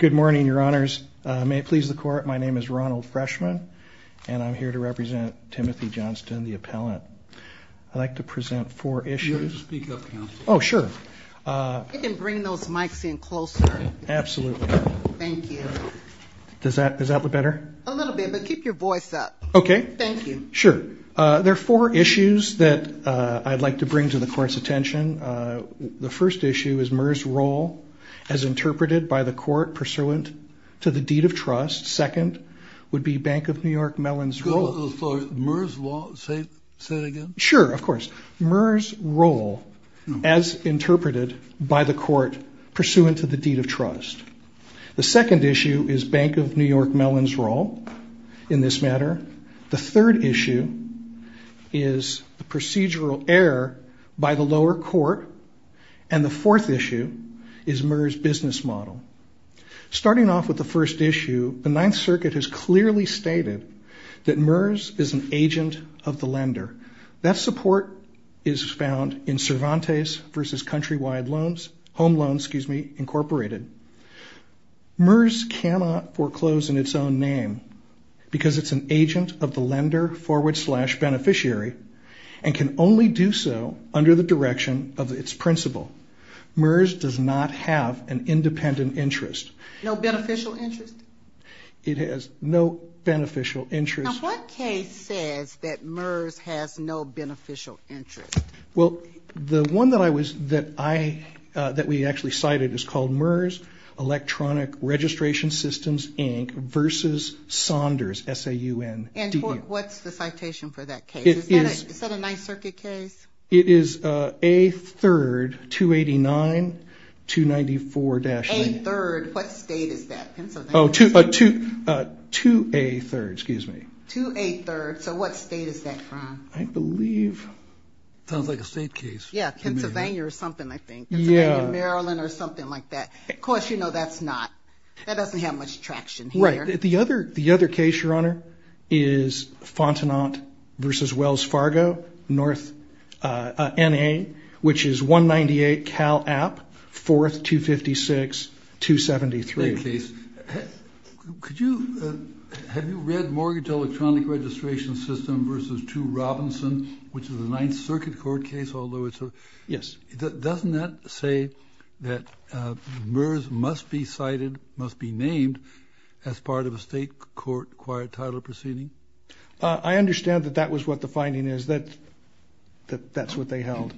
Good morning, Your Honors. May it please the Court, my name is Ronald Freshman, and I'm here to represent Timothy Johnston, the appellant. I'd like to present four issues. You can bring those mics in closer. Absolutely. Thank you. Does that look better? A little bit, but keep your voice up. Okay. Thank you. Sure. There are four issues that I'd like to bring to the Court's attention. The first issue is MERS role as interpreted by the Court pursuant to the deed of trust. Second would be Bank of New York Mellon's role. Could you say that again? Sure, of course. MERS role as interpreted by the Court pursuant to the deed of trust. The second issue is Bank of New York Mellon's role in this matter. The third issue is the procedural error by the lower court. And the fourth issue is MERS business model. Starting off with the first issue, the Ninth Circuit has clearly stated that MERS is an agent of the lender. That support is found in Cervantes v. Countrywide Loans, Home Loans, excuse me, Incorporated. MERS cannot foreclose in its own name because it's an agent of the lender forward slash beneficiary and can only do so under the direction of its principal. MERS does not have an independent interest. No beneficial interest? It has no beneficial interest. Now, what case says that MERS has no beneficial interest? Well, the one that I was, that I, that we actually cited is called MERS Electronic Registration Systems, Inc. v. Saunders, S-A-U-N-D-E. And what's the citation for that case? Is that a Ninth Circuit case? It is A3rd 289-294- A3rd, what state is that? Oh, 2A3rd, excuse me. 2A3rd, so what state is that from? I believe- Sounds like a state case. Yeah, Pennsylvania or something, I think. Yeah. Pennsylvania, Maryland or something like that. Of course, you know that's not, that doesn't have much traction here. Right. The other case, Your Honor, is Fontenot v. Wells Fargo, North N.A., which is 198 Cal App, 4th 256-273. Could you, have you read Mortgage Electronic Registration System v. 2 Robinson, which is a Ninth Circuit court case, although it's a- Yes. Doesn't that say that MERS must be cited, must be named, as part of a state court acquired title proceeding? I understand that that was what the finding is, that that's what they held.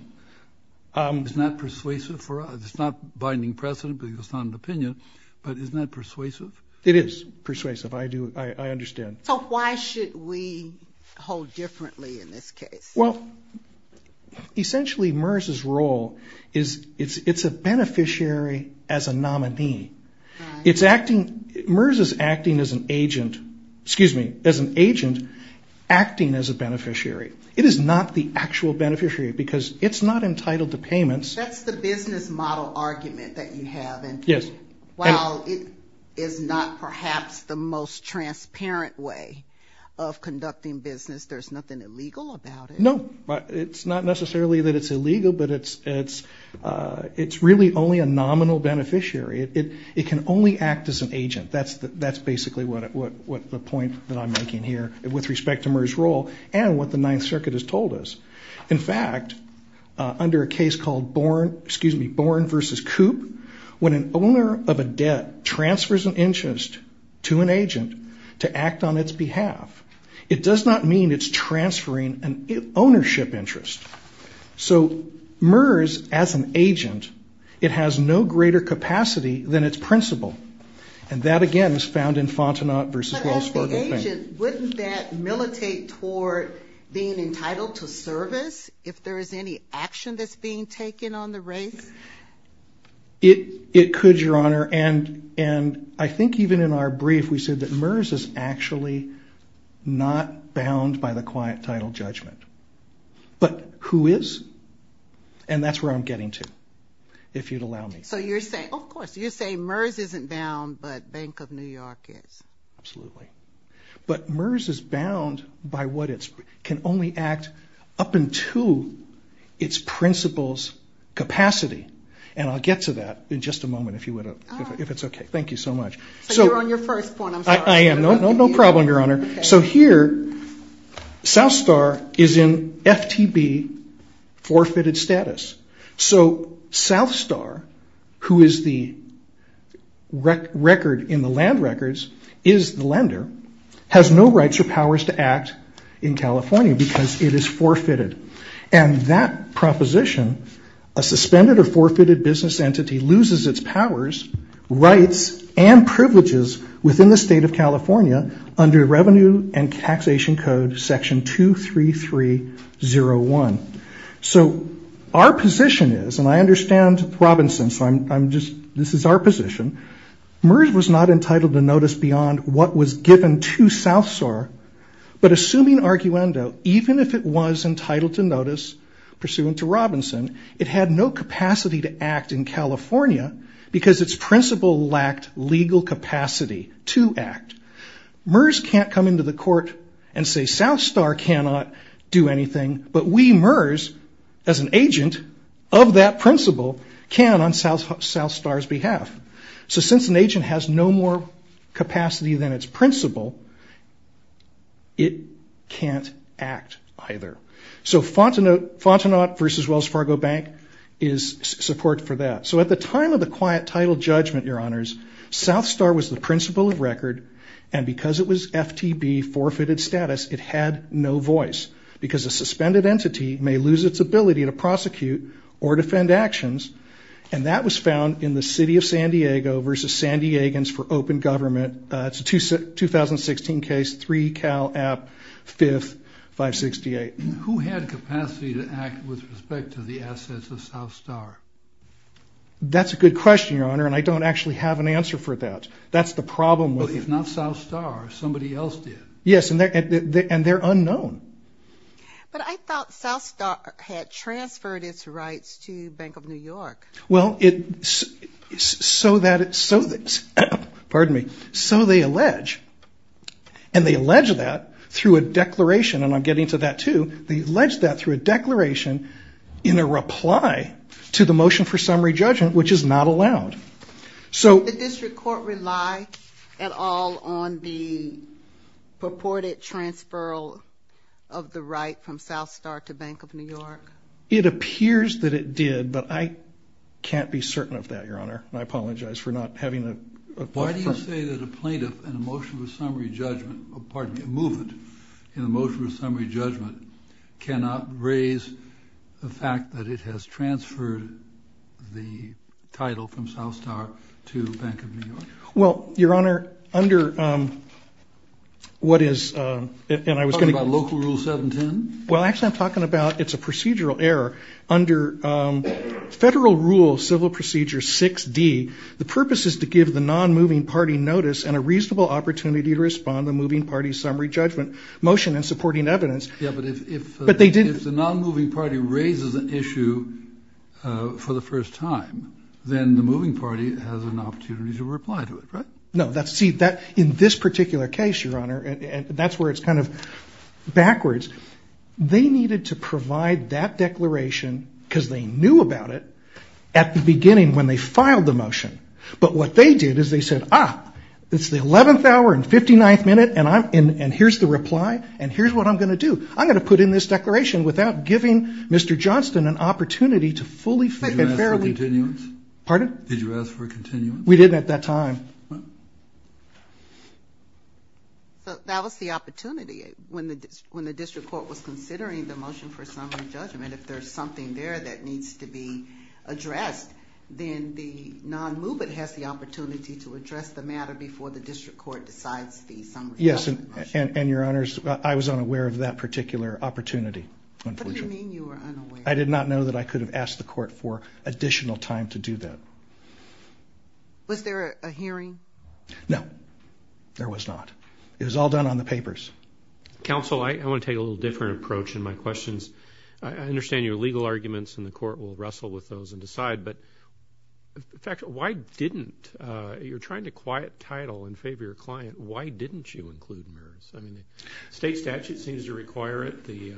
It's not persuasive for us, it's not binding precedent because it's not an opinion, but isn't that persuasive? It is persuasive, I do, I understand. So why should we hold differently in this case? Well, essentially MERS's role is it's a beneficiary as a nominee. Right. It's acting, MERS is acting as an agent, excuse me, as an agent acting as a beneficiary. It is not the actual beneficiary because it's not entitled to payments. That's the business model argument that you have. Yes. While it is not perhaps the most transparent way of conducting business, there's nothing illegal about it? No, it's not necessarily that it's illegal, but it's really only a nominal beneficiary. It can only act as an agent. That's basically the point that I'm making here with respect to MERS' role and what the Ninth Circuit has told us. In fact, under a case called Born v. Coop, when an owner of a debt transfers an interest to an agent to act on its behalf, it does not mean it's transferring an ownership interest. So MERS as an agent, it has no greater capacity than its principal, and that again is found in Fontenot v. Wells Fargo. As an agent, wouldn't that militate toward being entitled to service if there is any action that's being taken on the race? It could, Your Honor, and I think even in our brief, we said that MERS is actually not bound by the quiet title judgment. But who is? And that's where I'm getting to, if you'd allow me. So you're saying, of course, you're saying MERS isn't bound, but Bank of New York is. Absolutely. But MERS is bound by what can only act up into its principal's capacity, and I'll get to that in just a moment if it's okay. Thank you so much. So you're on your first point, I'm sorry. I am. No problem, Your Honor. So here, South Star is in FTB forfeited status. So South Star, who is the record in the land records, is the lender, has no rights or powers to act in California because it is forfeited. And that proposition, a suspended or forfeited business entity loses its powers, rights, and privileges within the State of California under Revenue and Taxation Code Section 23301. So our position is, and I understand Robinson, so this is our position, MERS was not entitled to notice beyond what was given to South Star, but assuming arguendo, even if it was entitled to notice pursuant to Robinson, it had no capacity to act in California because its principal lacked legal capacity to act. MERS can't come into the court and say South Star cannot do anything, but we, MERS, as an agent of that principal, can on South Star's behalf. So since an agent has no more capacity than its principal, it can't act either. So Fontenot v. Wells Fargo Bank is support for that. So at the time of the quiet title judgment, Your Honors, South Star was the principal of record, and because it was FTB, it had no voice because a suspended entity may lose its ability to prosecute or defend actions, and that was found in the City of San Diego v. San Diegans for Open Government. It's a 2016 case, 3 Cal App, 5th, 568. Who had capacity to act with respect to the assets of South Star? That's a good question, Your Honor, and I don't actually have an answer for that. Well, if not South Star, somebody else did. Yes, and they're unknown. But I thought South Star had transferred its rights to Bank of New York. Well, so they allege, and they allege that through a declaration, and I'm getting to that too, they allege that through a declaration in a reply to the motion for summary judgment, which is not allowed. Did the district court rely at all on the purported transferal of the right from South Star to Bank of New York? It appears that it did, but I can't be certain of that, Your Honor, and I apologize for not having a question. Why do you say that a plaintiff in a motion for summary judgment, pardon me, a movement in a motion for summary judgment cannot raise the fact that it has transferred the title from South Star to Bank of New York? Well, Your Honor, under what is, and I was going to... Are you talking about Local Rule 710? Well, actually I'm talking about, it's a procedural error. Under Federal Rule Civil Procedure 6D, the purpose is to give the non-moving party notice and a reasonable opportunity to respond to the moving party's summary judgment motion in supporting evidence. Yeah, but if the non-moving party raises an issue for the first time, then the moving party has an opportunity to reply to it, right? No, see, in this particular case, Your Honor, and that's where it's kind of backwards, they needed to provide that declaration because they knew about it at the beginning when they filed the motion. But what they did is they said, ah, it's the 11th hour and 59th minute and here's the reply and here's what I'm going to do. I'm going to put in this declaration without giving Mr. Johnston an opportunity to fully and fairly... Did you ask for a continuance? Pardon? Did you ask for a continuance? We didn't at that time. That was the opportunity. When the district court was considering the motion for summary judgment, if there's something there that needs to be addressed, then the non-moving has the opportunity to address the matter before the district court decides the summary judgment motion. Yes, and Your Honors, I was unaware of that particular opportunity. What do you mean you were unaware? I did not know that I could have asked the court for additional time to do that. Was there a hearing? No, there was not. It was all done on the papers. Counsel, I want to take a little different approach in my questions. I understand your legal arguments and the court will wrestle with those and decide, but in fact, why didn't you try to quiet title in favor of your client? Why didn't you include MERS? The state statute seems to require it. The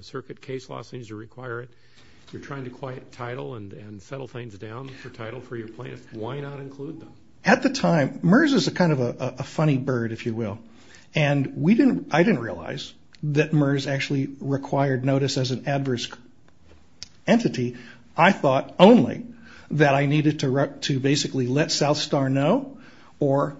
circuit case law seems to require it. You're trying to quiet title and settle things down for title for your plaintiff. Why not include them? At the time, MERS is kind of a funny bird, if you will, and I didn't realize that MERS actually required notice as an adverse entity. I thought only that I needed to basically let South Star know or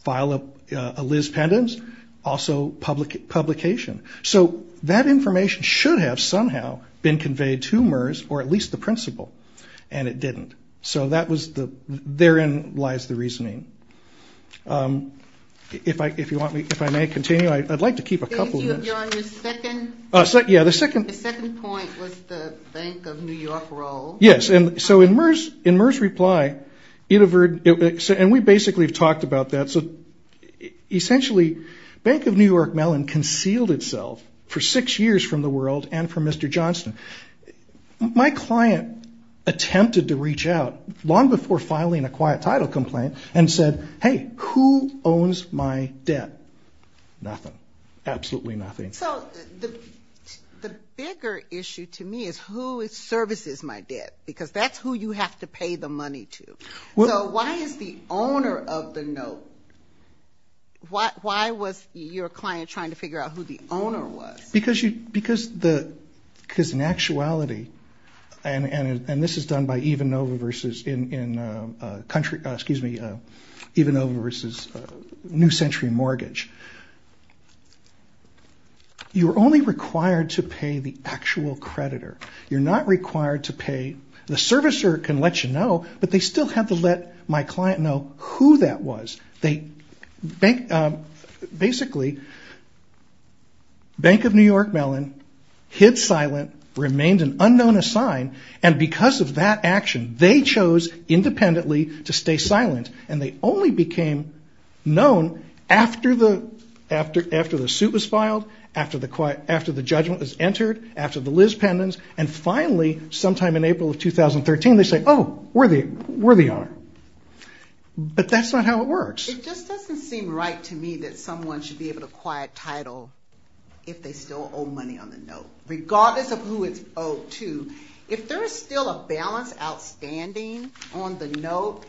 file a Liz Pendens, also publication. So that information should have somehow been conveyed to MERS or at least the principal, and it didn't. So therein lies the reasoning. If I may continue, I'd like to keep a couple of minutes. The second point was the Bank of New York role. Yes, and so in MERS' reply, and we basically have talked about that. Essentially, Bank of New York Mellon concealed itself for six years from the world and from Mr. Johnston. My client attempted to reach out long before filing a quiet title complaint and said, hey, who owns my debt? Nothing. Absolutely nothing. So the bigger issue to me is who services my debt because that's who you have to pay the money to. So why is the owner of the note, why was your client trying to figure out who the owner was? Because in actuality, and this is done by Evenova versus in country, excuse me, Evenova versus New Century Mortgage, you're only required to pay the actual creditor. You're not required to pay, the servicer can let you know, but they still have to let my client know who that was. They, basically, Bank of New York Mellon hid silent, remained an unknown assigned, and because of that action, they chose independently to stay silent, and they only became known after the suit was filed, after the judgment was entered, after the Liz pendants, and finally sometime in April of 2013, they say, oh, where they are. But that's not how it works. It just doesn't seem right to me that someone should be able to quiet title if they still owe money on the note, regardless of who it's owed to. If there is still a balance outstanding on the note,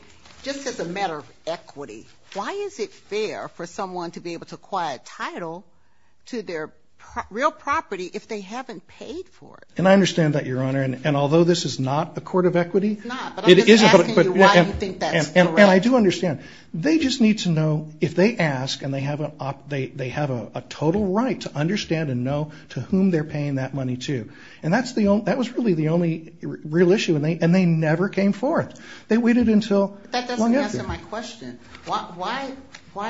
just as a matter of equity, why is it fair for someone to be able to quiet title to their real property if they haven't paid for it? And I understand that, Your Honor, and although this is not a court of equity. It's not, but I'm just asking you why you think that's correct. And I do understand. They just need to know if they ask and they have a total right to understand and know to whom they're paying that money to, and that was really the only real issue, and they never came forth. They waited until long after. That doesn't answer my question. Why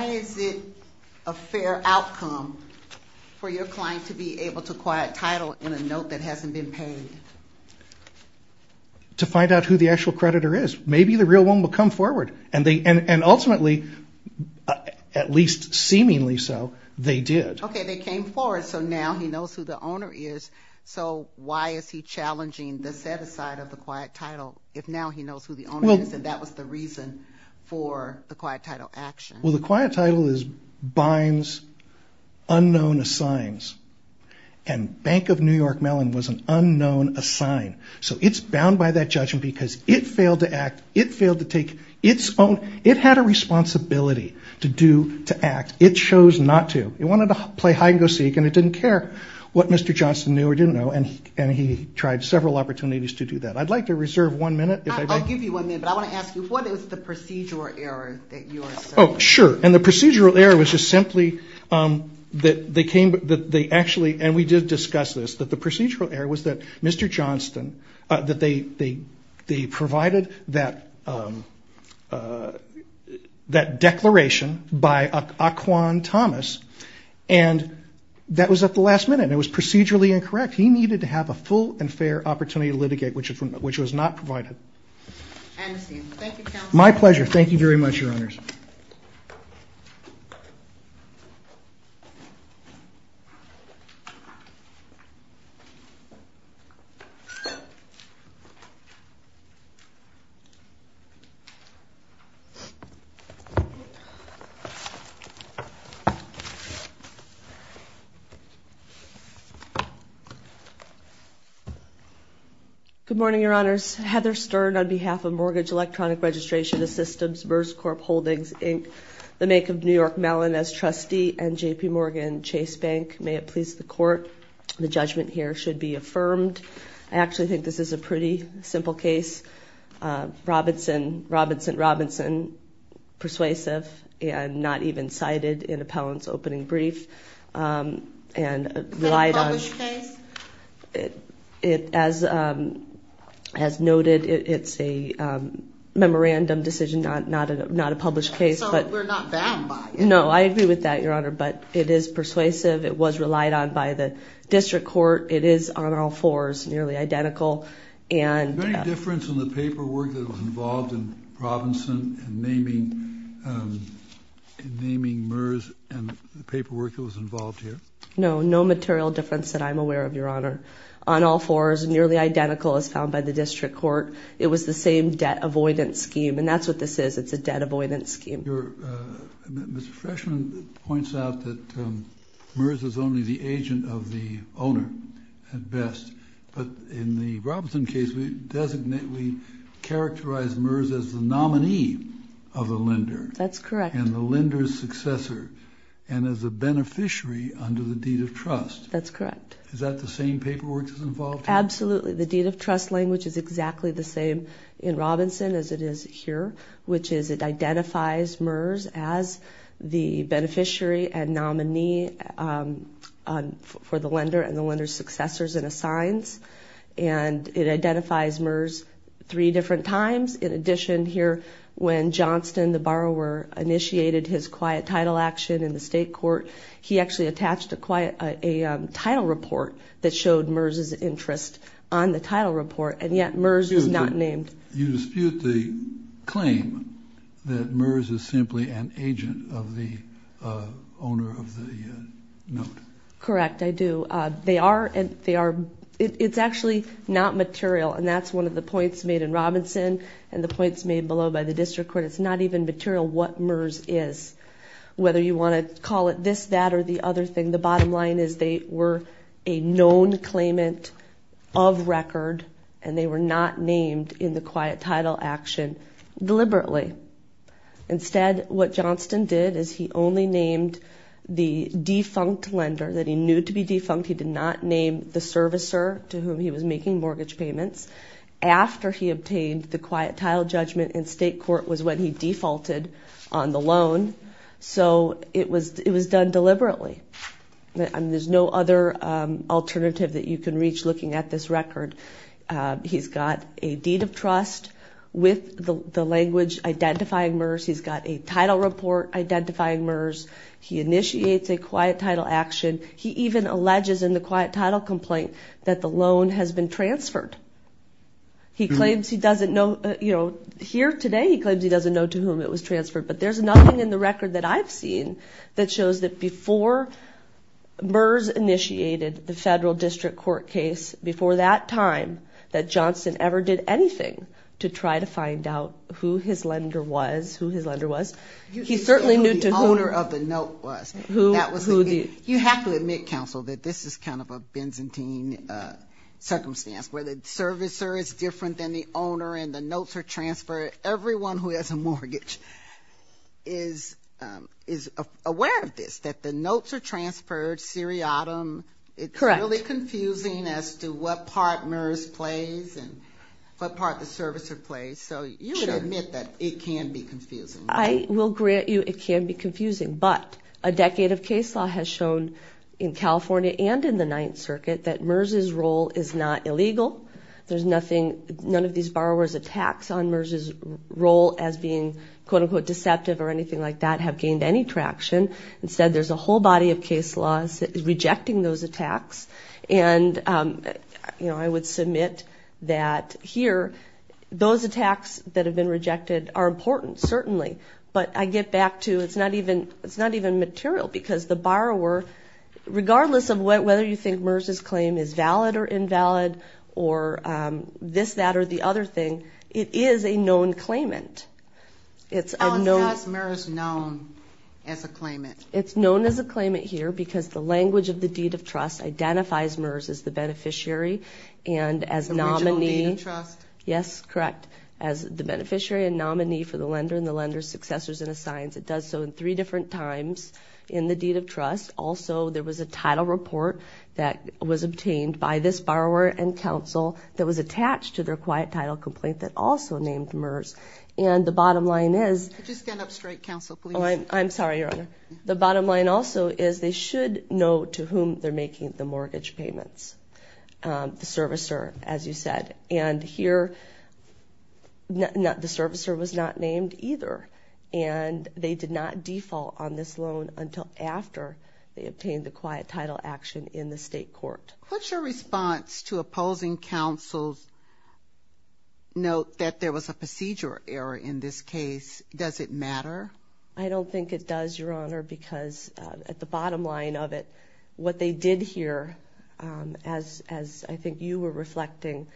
is it a fair outcome for your client to be able to quiet title on a note that hasn't been paid? To find out who the actual creditor is. Maybe the real one will come forward, and ultimately, at least seemingly so, they did. Okay, they came forward, so now he knows who the owner is. So why is he challenging the set-aside of the quiet title if now he knows who the owner is and that was the reason for the quiet title action? Well, the quiet title binds unknown assigns, and Bank of New York Mellon was an unknown assign. So it's bound by that judgment because it failed to act. It failed to take its own. It had a responsibility to do, to act. It chose not to. It wanted to play hide-and-go-seek, and it didn't care what Mr. Johnston knew or didn't know, and he tried several opportunities to do that. I'd like to reserve one minute. I'll give you one minute, but I want to ask you, what is the procedural error that you are saying? Oh, sure, and the procedural error was just simply that they actually, and we did discuss this, that the procedural error was that Mr. Johnston, that they provided that declaration by Aquan Thomas, and that was at the last minute, and it was procedurally incorrect. He needed to have a full and fair opportunity to litigate, which was not provided. Thank you, counsel. My pleasure. Thank you very much, Your Honors. Heather Stern. Good morning, Your Honors. Heather Stern on behalf of Mortgage Electronic Registration Systems, MERS Corp Holdings, Inc., the make of New York Mellon as trustee, and J.P. Morgan Chase Bank. May it please the Court, the judgment here should be affirmed. I actually think this is a pretty simple case. Robinson, Robinson, Robinson, persuasive, and not even cited in appellant's opening brief, and relied on. Is it a published case? As noted, it's a memorandum decision, not a published case. So we're not bound by it? No, I agree with that, Your Honor, but it is persuasive. It was relied on by the district court. It is on all fours, nearly identical. Is there any difference in the paperwork that was involved in Robinson in naming MERS and the paperwork that was involved here? No, no material difference that I'm aware of, Your Honor. On all fours, nearly identical as found by the district court. It was the same debt avoidance scheme, and that's what this is. It's a debt avoidance scheme. Mr. Freshman points out that MERS is only the agent of the owner, at best. But in the Robinson case, we designate, we characterize MERS as the nominee of the lender. That's correct. And the lender's successor, and as a beneficiary under the deed of trust. That's correct. Is that the same paperwork that's involved here? Absolutely. The deed of trust language is exactly the same in Robinson as it is here, which is it identifies MERS as the beneficiary and nominee for the lender and the lender's successors and assigns. And it identifies MERS three different times. In addition, here, when Johnston, the borrower, initiated his quiet title action in the state court, he actually attached a title report that showed MERS' interest on the title report, and yet MERS is not named. You dispute the claim that MERS is simply an agent of the owner of the note. Correct, I do. They are. It's actually not material, and that's one of the points made in Robinson and the points made below by the district court. It's not even material what MERS is. Whether you want to call it this, that, or the other thing, the bottom line is they were a known claimant of record, and they were not named in the quiet title action deliberately. Instead, what Johnston did is he only named the defunct lender that he knew to be defunct. He did not name the servicer to whom he was making mortgage payments. After he obtained the quiet title judgment in state court was when he defaulted on the loan, so it was done deliberately. There's no other alternative that you can reach looking at this record. He's got a deed of trust with the language identifying MERS. He's got a title report identifying MERS. He initiates a quiet title action. He even alleges in the quiet title complaint that the loan has been transferred. Here today he claims he doesn't know to whom it was transferred, but there's nothing in the record that I've seen that shows that before MERS initiated the federal district court case, before that time that Johnston ever did anything to try to find out who his lender was, he certainly knew to whom. You have to admit, counsel, that this is kind of a Byzantine circumstance where the servicer is different than the owner and the notes are transferred. Everyone who has a mortgage is aware of this, that the notes are transferred seriatim. It's really confusing as to what part MERS plays and what part the servicer plays, so you can admit that it can be confusing. I will grant you it can be confusing, but a decade of case law has shown in California and in the Ninth Circuit that MERS's role is not illegal. None of these borrowers' attacks on MERS's role as being, quote, unquote, deceptive or anything like that have gained any traction. Instead, there's a whole body of case law rejecting those attacks, and I would submit that here those attacks that have been rejected are important, certainly, but I get back to it's not even material because the borrower, regardless of whether you think MERS's claim is valid or invalid or this, that, or the other thing, it is a known claimant. How is MERS known as a claimant? It's known as a claimant here because the language of the deed of trust identifies MERS as the beneficiary and as nominee. The original deed of trust. Yes, correct. As the beneficiary and nominee for the lender and the lender's successors and assigns. It does so in three different times in the deed of trust. Also, there was a title report that was obtained by this borrower and counsel that was attached to their quiet title complaint that also named MERS, and the bottom line is. Could you stand up straight, counsel, please? I'm sorry, Your Honor. The bottom line also is they should know to whom they're making the mortgage payments. The servicer, as you said. And here the servicer was not named either, and they did not default on this loan until after they obtained the quiet title action in the state court. What's your response to opposing counsel's note that there was a procedure error in this case? Does it matter? I don't think it does, Your Honor, because at the bottom line of it, what they did here, as I think you were reflecting,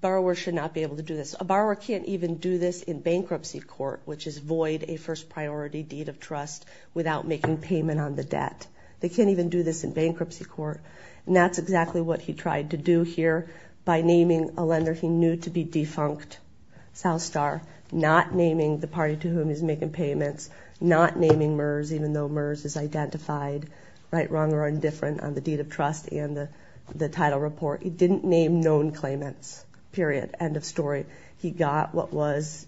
borrowers should not be able to do this. A borrower can't even do this in bankruptcy court, which is void a first priority deed of trust without making payment on the debt. They can't even do this in bankruptcy court, and that's exactly what he tried to do here by naming a lender he knew to be defunct, South Star, not naming the party to whom he's making payments, not naming MERS even though MERS is identified right, wrong, or indifferent on the deed of trust and the title report. He didn't name known claimants, period, end of story. He got what was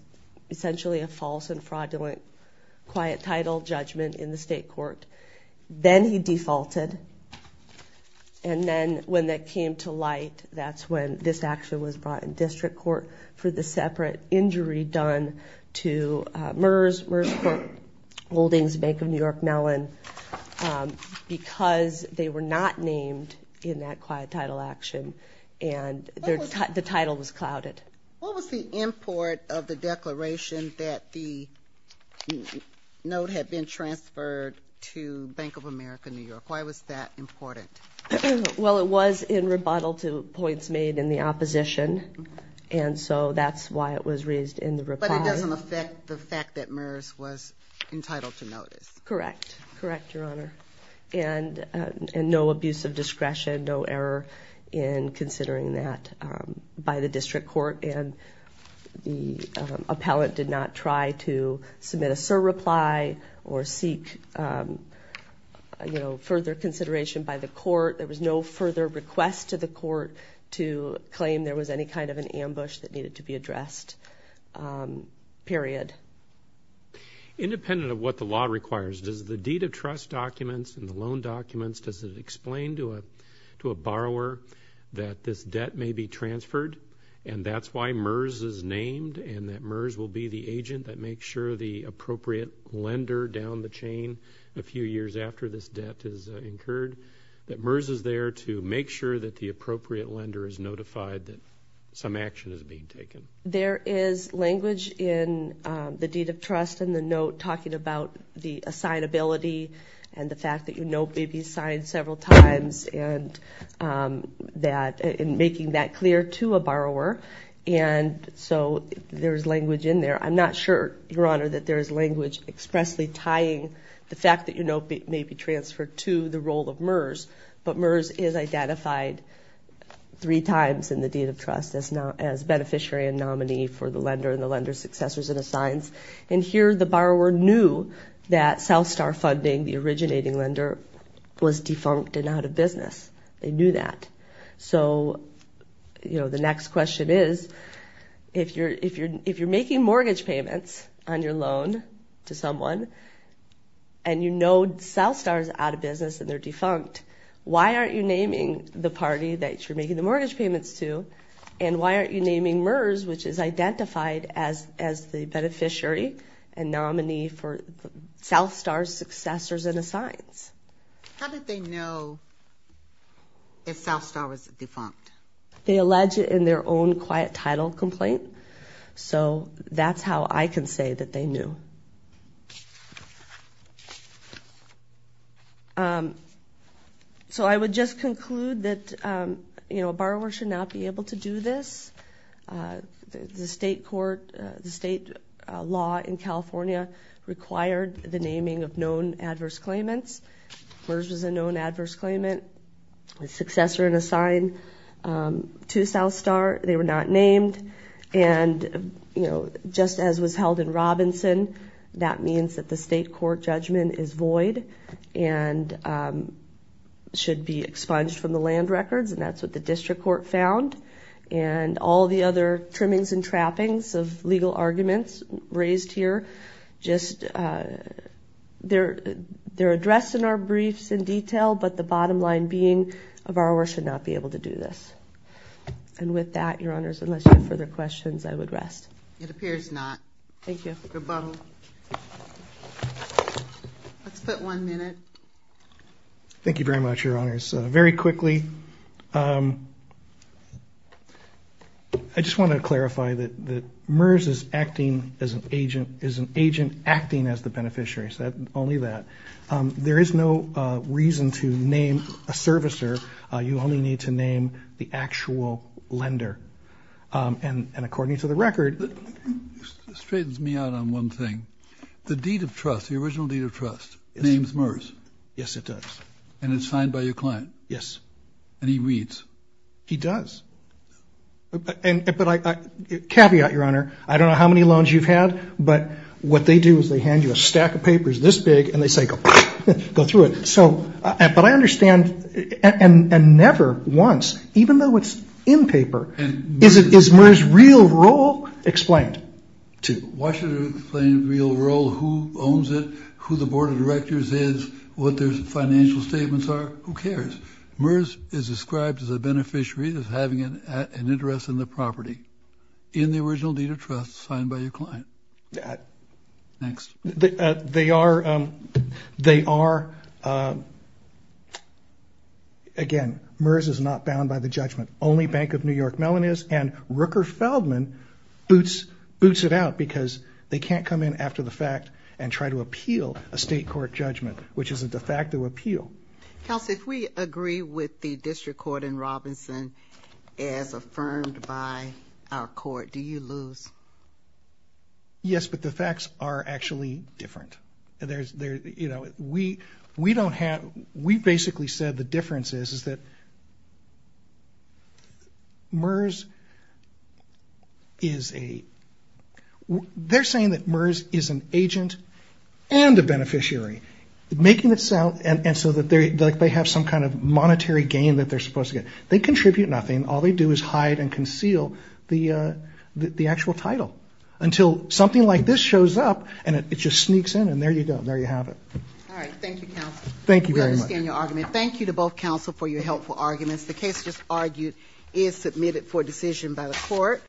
essentially a false and fraudulent quiet title judgment in the state court. Then he defaulted, and then when that came to light, that's when this action was brought in district court for the separate injury done to MERS, MERS court holdings, Bank of New York, Mellon, because they were not named in that quiet title action, and the title was clouded. What was the import of the declaration that the note had been transferred to Bank of America New York? Why was that important? Well, it was in rebuttal to points made in the opposition, and so that's why it was raised in the rebuttal. But it doesn't affect the fact that MERS was entitled to notice. Correct, correct, Your Honor, and no abuse of discretion, no error in considering that by the district court, and the appellate did not try to submit a surreply or seek, you know, further consideration by the court. There was no further request to the court to claim there was any kind of an ambush that needed to be addressed, period. Independent of what the law requires, does the deed of trust documents and the loan documents, does it explain to a borrower that this debt may be transferred, and that's why MERS is named and that MERS will be the agent that makes sure the appropriate lender down the chain, a few years after this debt is incurred, that MERS is there to make sure that the appropriate lender is notified that some action is being taken? There is language in the deed of trust and the note talking about the assignability and the fact that your note may be signed several times and making that clear to a borrower. And so there is language in there. I'm not sure, Your Honor, that there is language expressly tying the fact that your note may be transferred to the role of MERS, but MERS is identified three times in the deed of trust as beneficiary and nominee for the lender and the lender's successors and assigns. And here the borrower knew that Southstar Funding, the originating lender, was defunct and out of business. They knew that. So, you know, the next question is, if you're making mortgage payments on your loan to someone and you know Southstar is out of business and they're defunct, why aren't you naming the party that you're making the mortgage payments to and why aren't you naming MERS, which is identified as the beneficiary and nominee for Southstar's successors and assigns? How did they know if Southstar was defunct? They allege it in their own quiet title complaint. So that's how I can say that they knew. So I would just conclude that, you know, a borrower should not be able to do this. The state court, the state law in California required the naming of known adverse claimants. MERS was a known adverse claimant, a successor and assign to Southstar. They were not named and, you know, just as was held in Robinson, that means that the state court judgment is void and should be expunged from the land records and that's what the district court found. And all the other trimmings and trappings of legal arguments raised here, just they're addressed in our briefs in detail, but the bottom line being a borrower should not be able to do this. And with that, Your Honors, unless you have further questions, I would rest. It appears not. Thank you. Rebuttal. Let's put one minute. Thank you very much, Your Honors. Very quickly, I just want to clarify that MERS is an agent acting as the beneficiary, only that. There is no reason to name a servicer. You only need to name the actual lender. And according to the record. Straightens me out on one thing. The deed of trust, the original deed of trust, names MERS. Yes, it does. And it's signed by your client. Yes. And he reads. He does. But caveat, Your Honor, I don't know how many loans you've had, but what they do is they hand you a stack of papers this big and they say go through it. But I understand, and never once, even though it's in paper, is MERS' real role explained? Why should it explain real role, who owns it, who the board of directors is, what their financial statements are? Who cares? MERS is described as a beneficiary that's having an interest in the property. In the original deed of trust signed by your client. Next. They are, again, MERS is not bound by the judgment. Only Bank of New York Mellon is. And Rooker Feldman boots it out because they can't come in after the fact and try to appeal a state court judgment, which is a de facto appeal. Counsel, if we agree with the district court in Robinson as affirmed by our court, do you lose? Yes, but the facts are actually different. We basically said the difference is that MERS is a, they're saying that MERS is an agent and a beneficiary, making it sound like they have some kind of monetary gain that they're supposed to get. They contribute nothing. All they do is hide and conceal the actual title until something like this shows up and it just sneaks in and there you go. There you have it. All right. Thank you, counsel. Thank you very much. We understand your argument. Thank you to both counsel for your helpful arguments. The case just argued is submitted for decision by the court.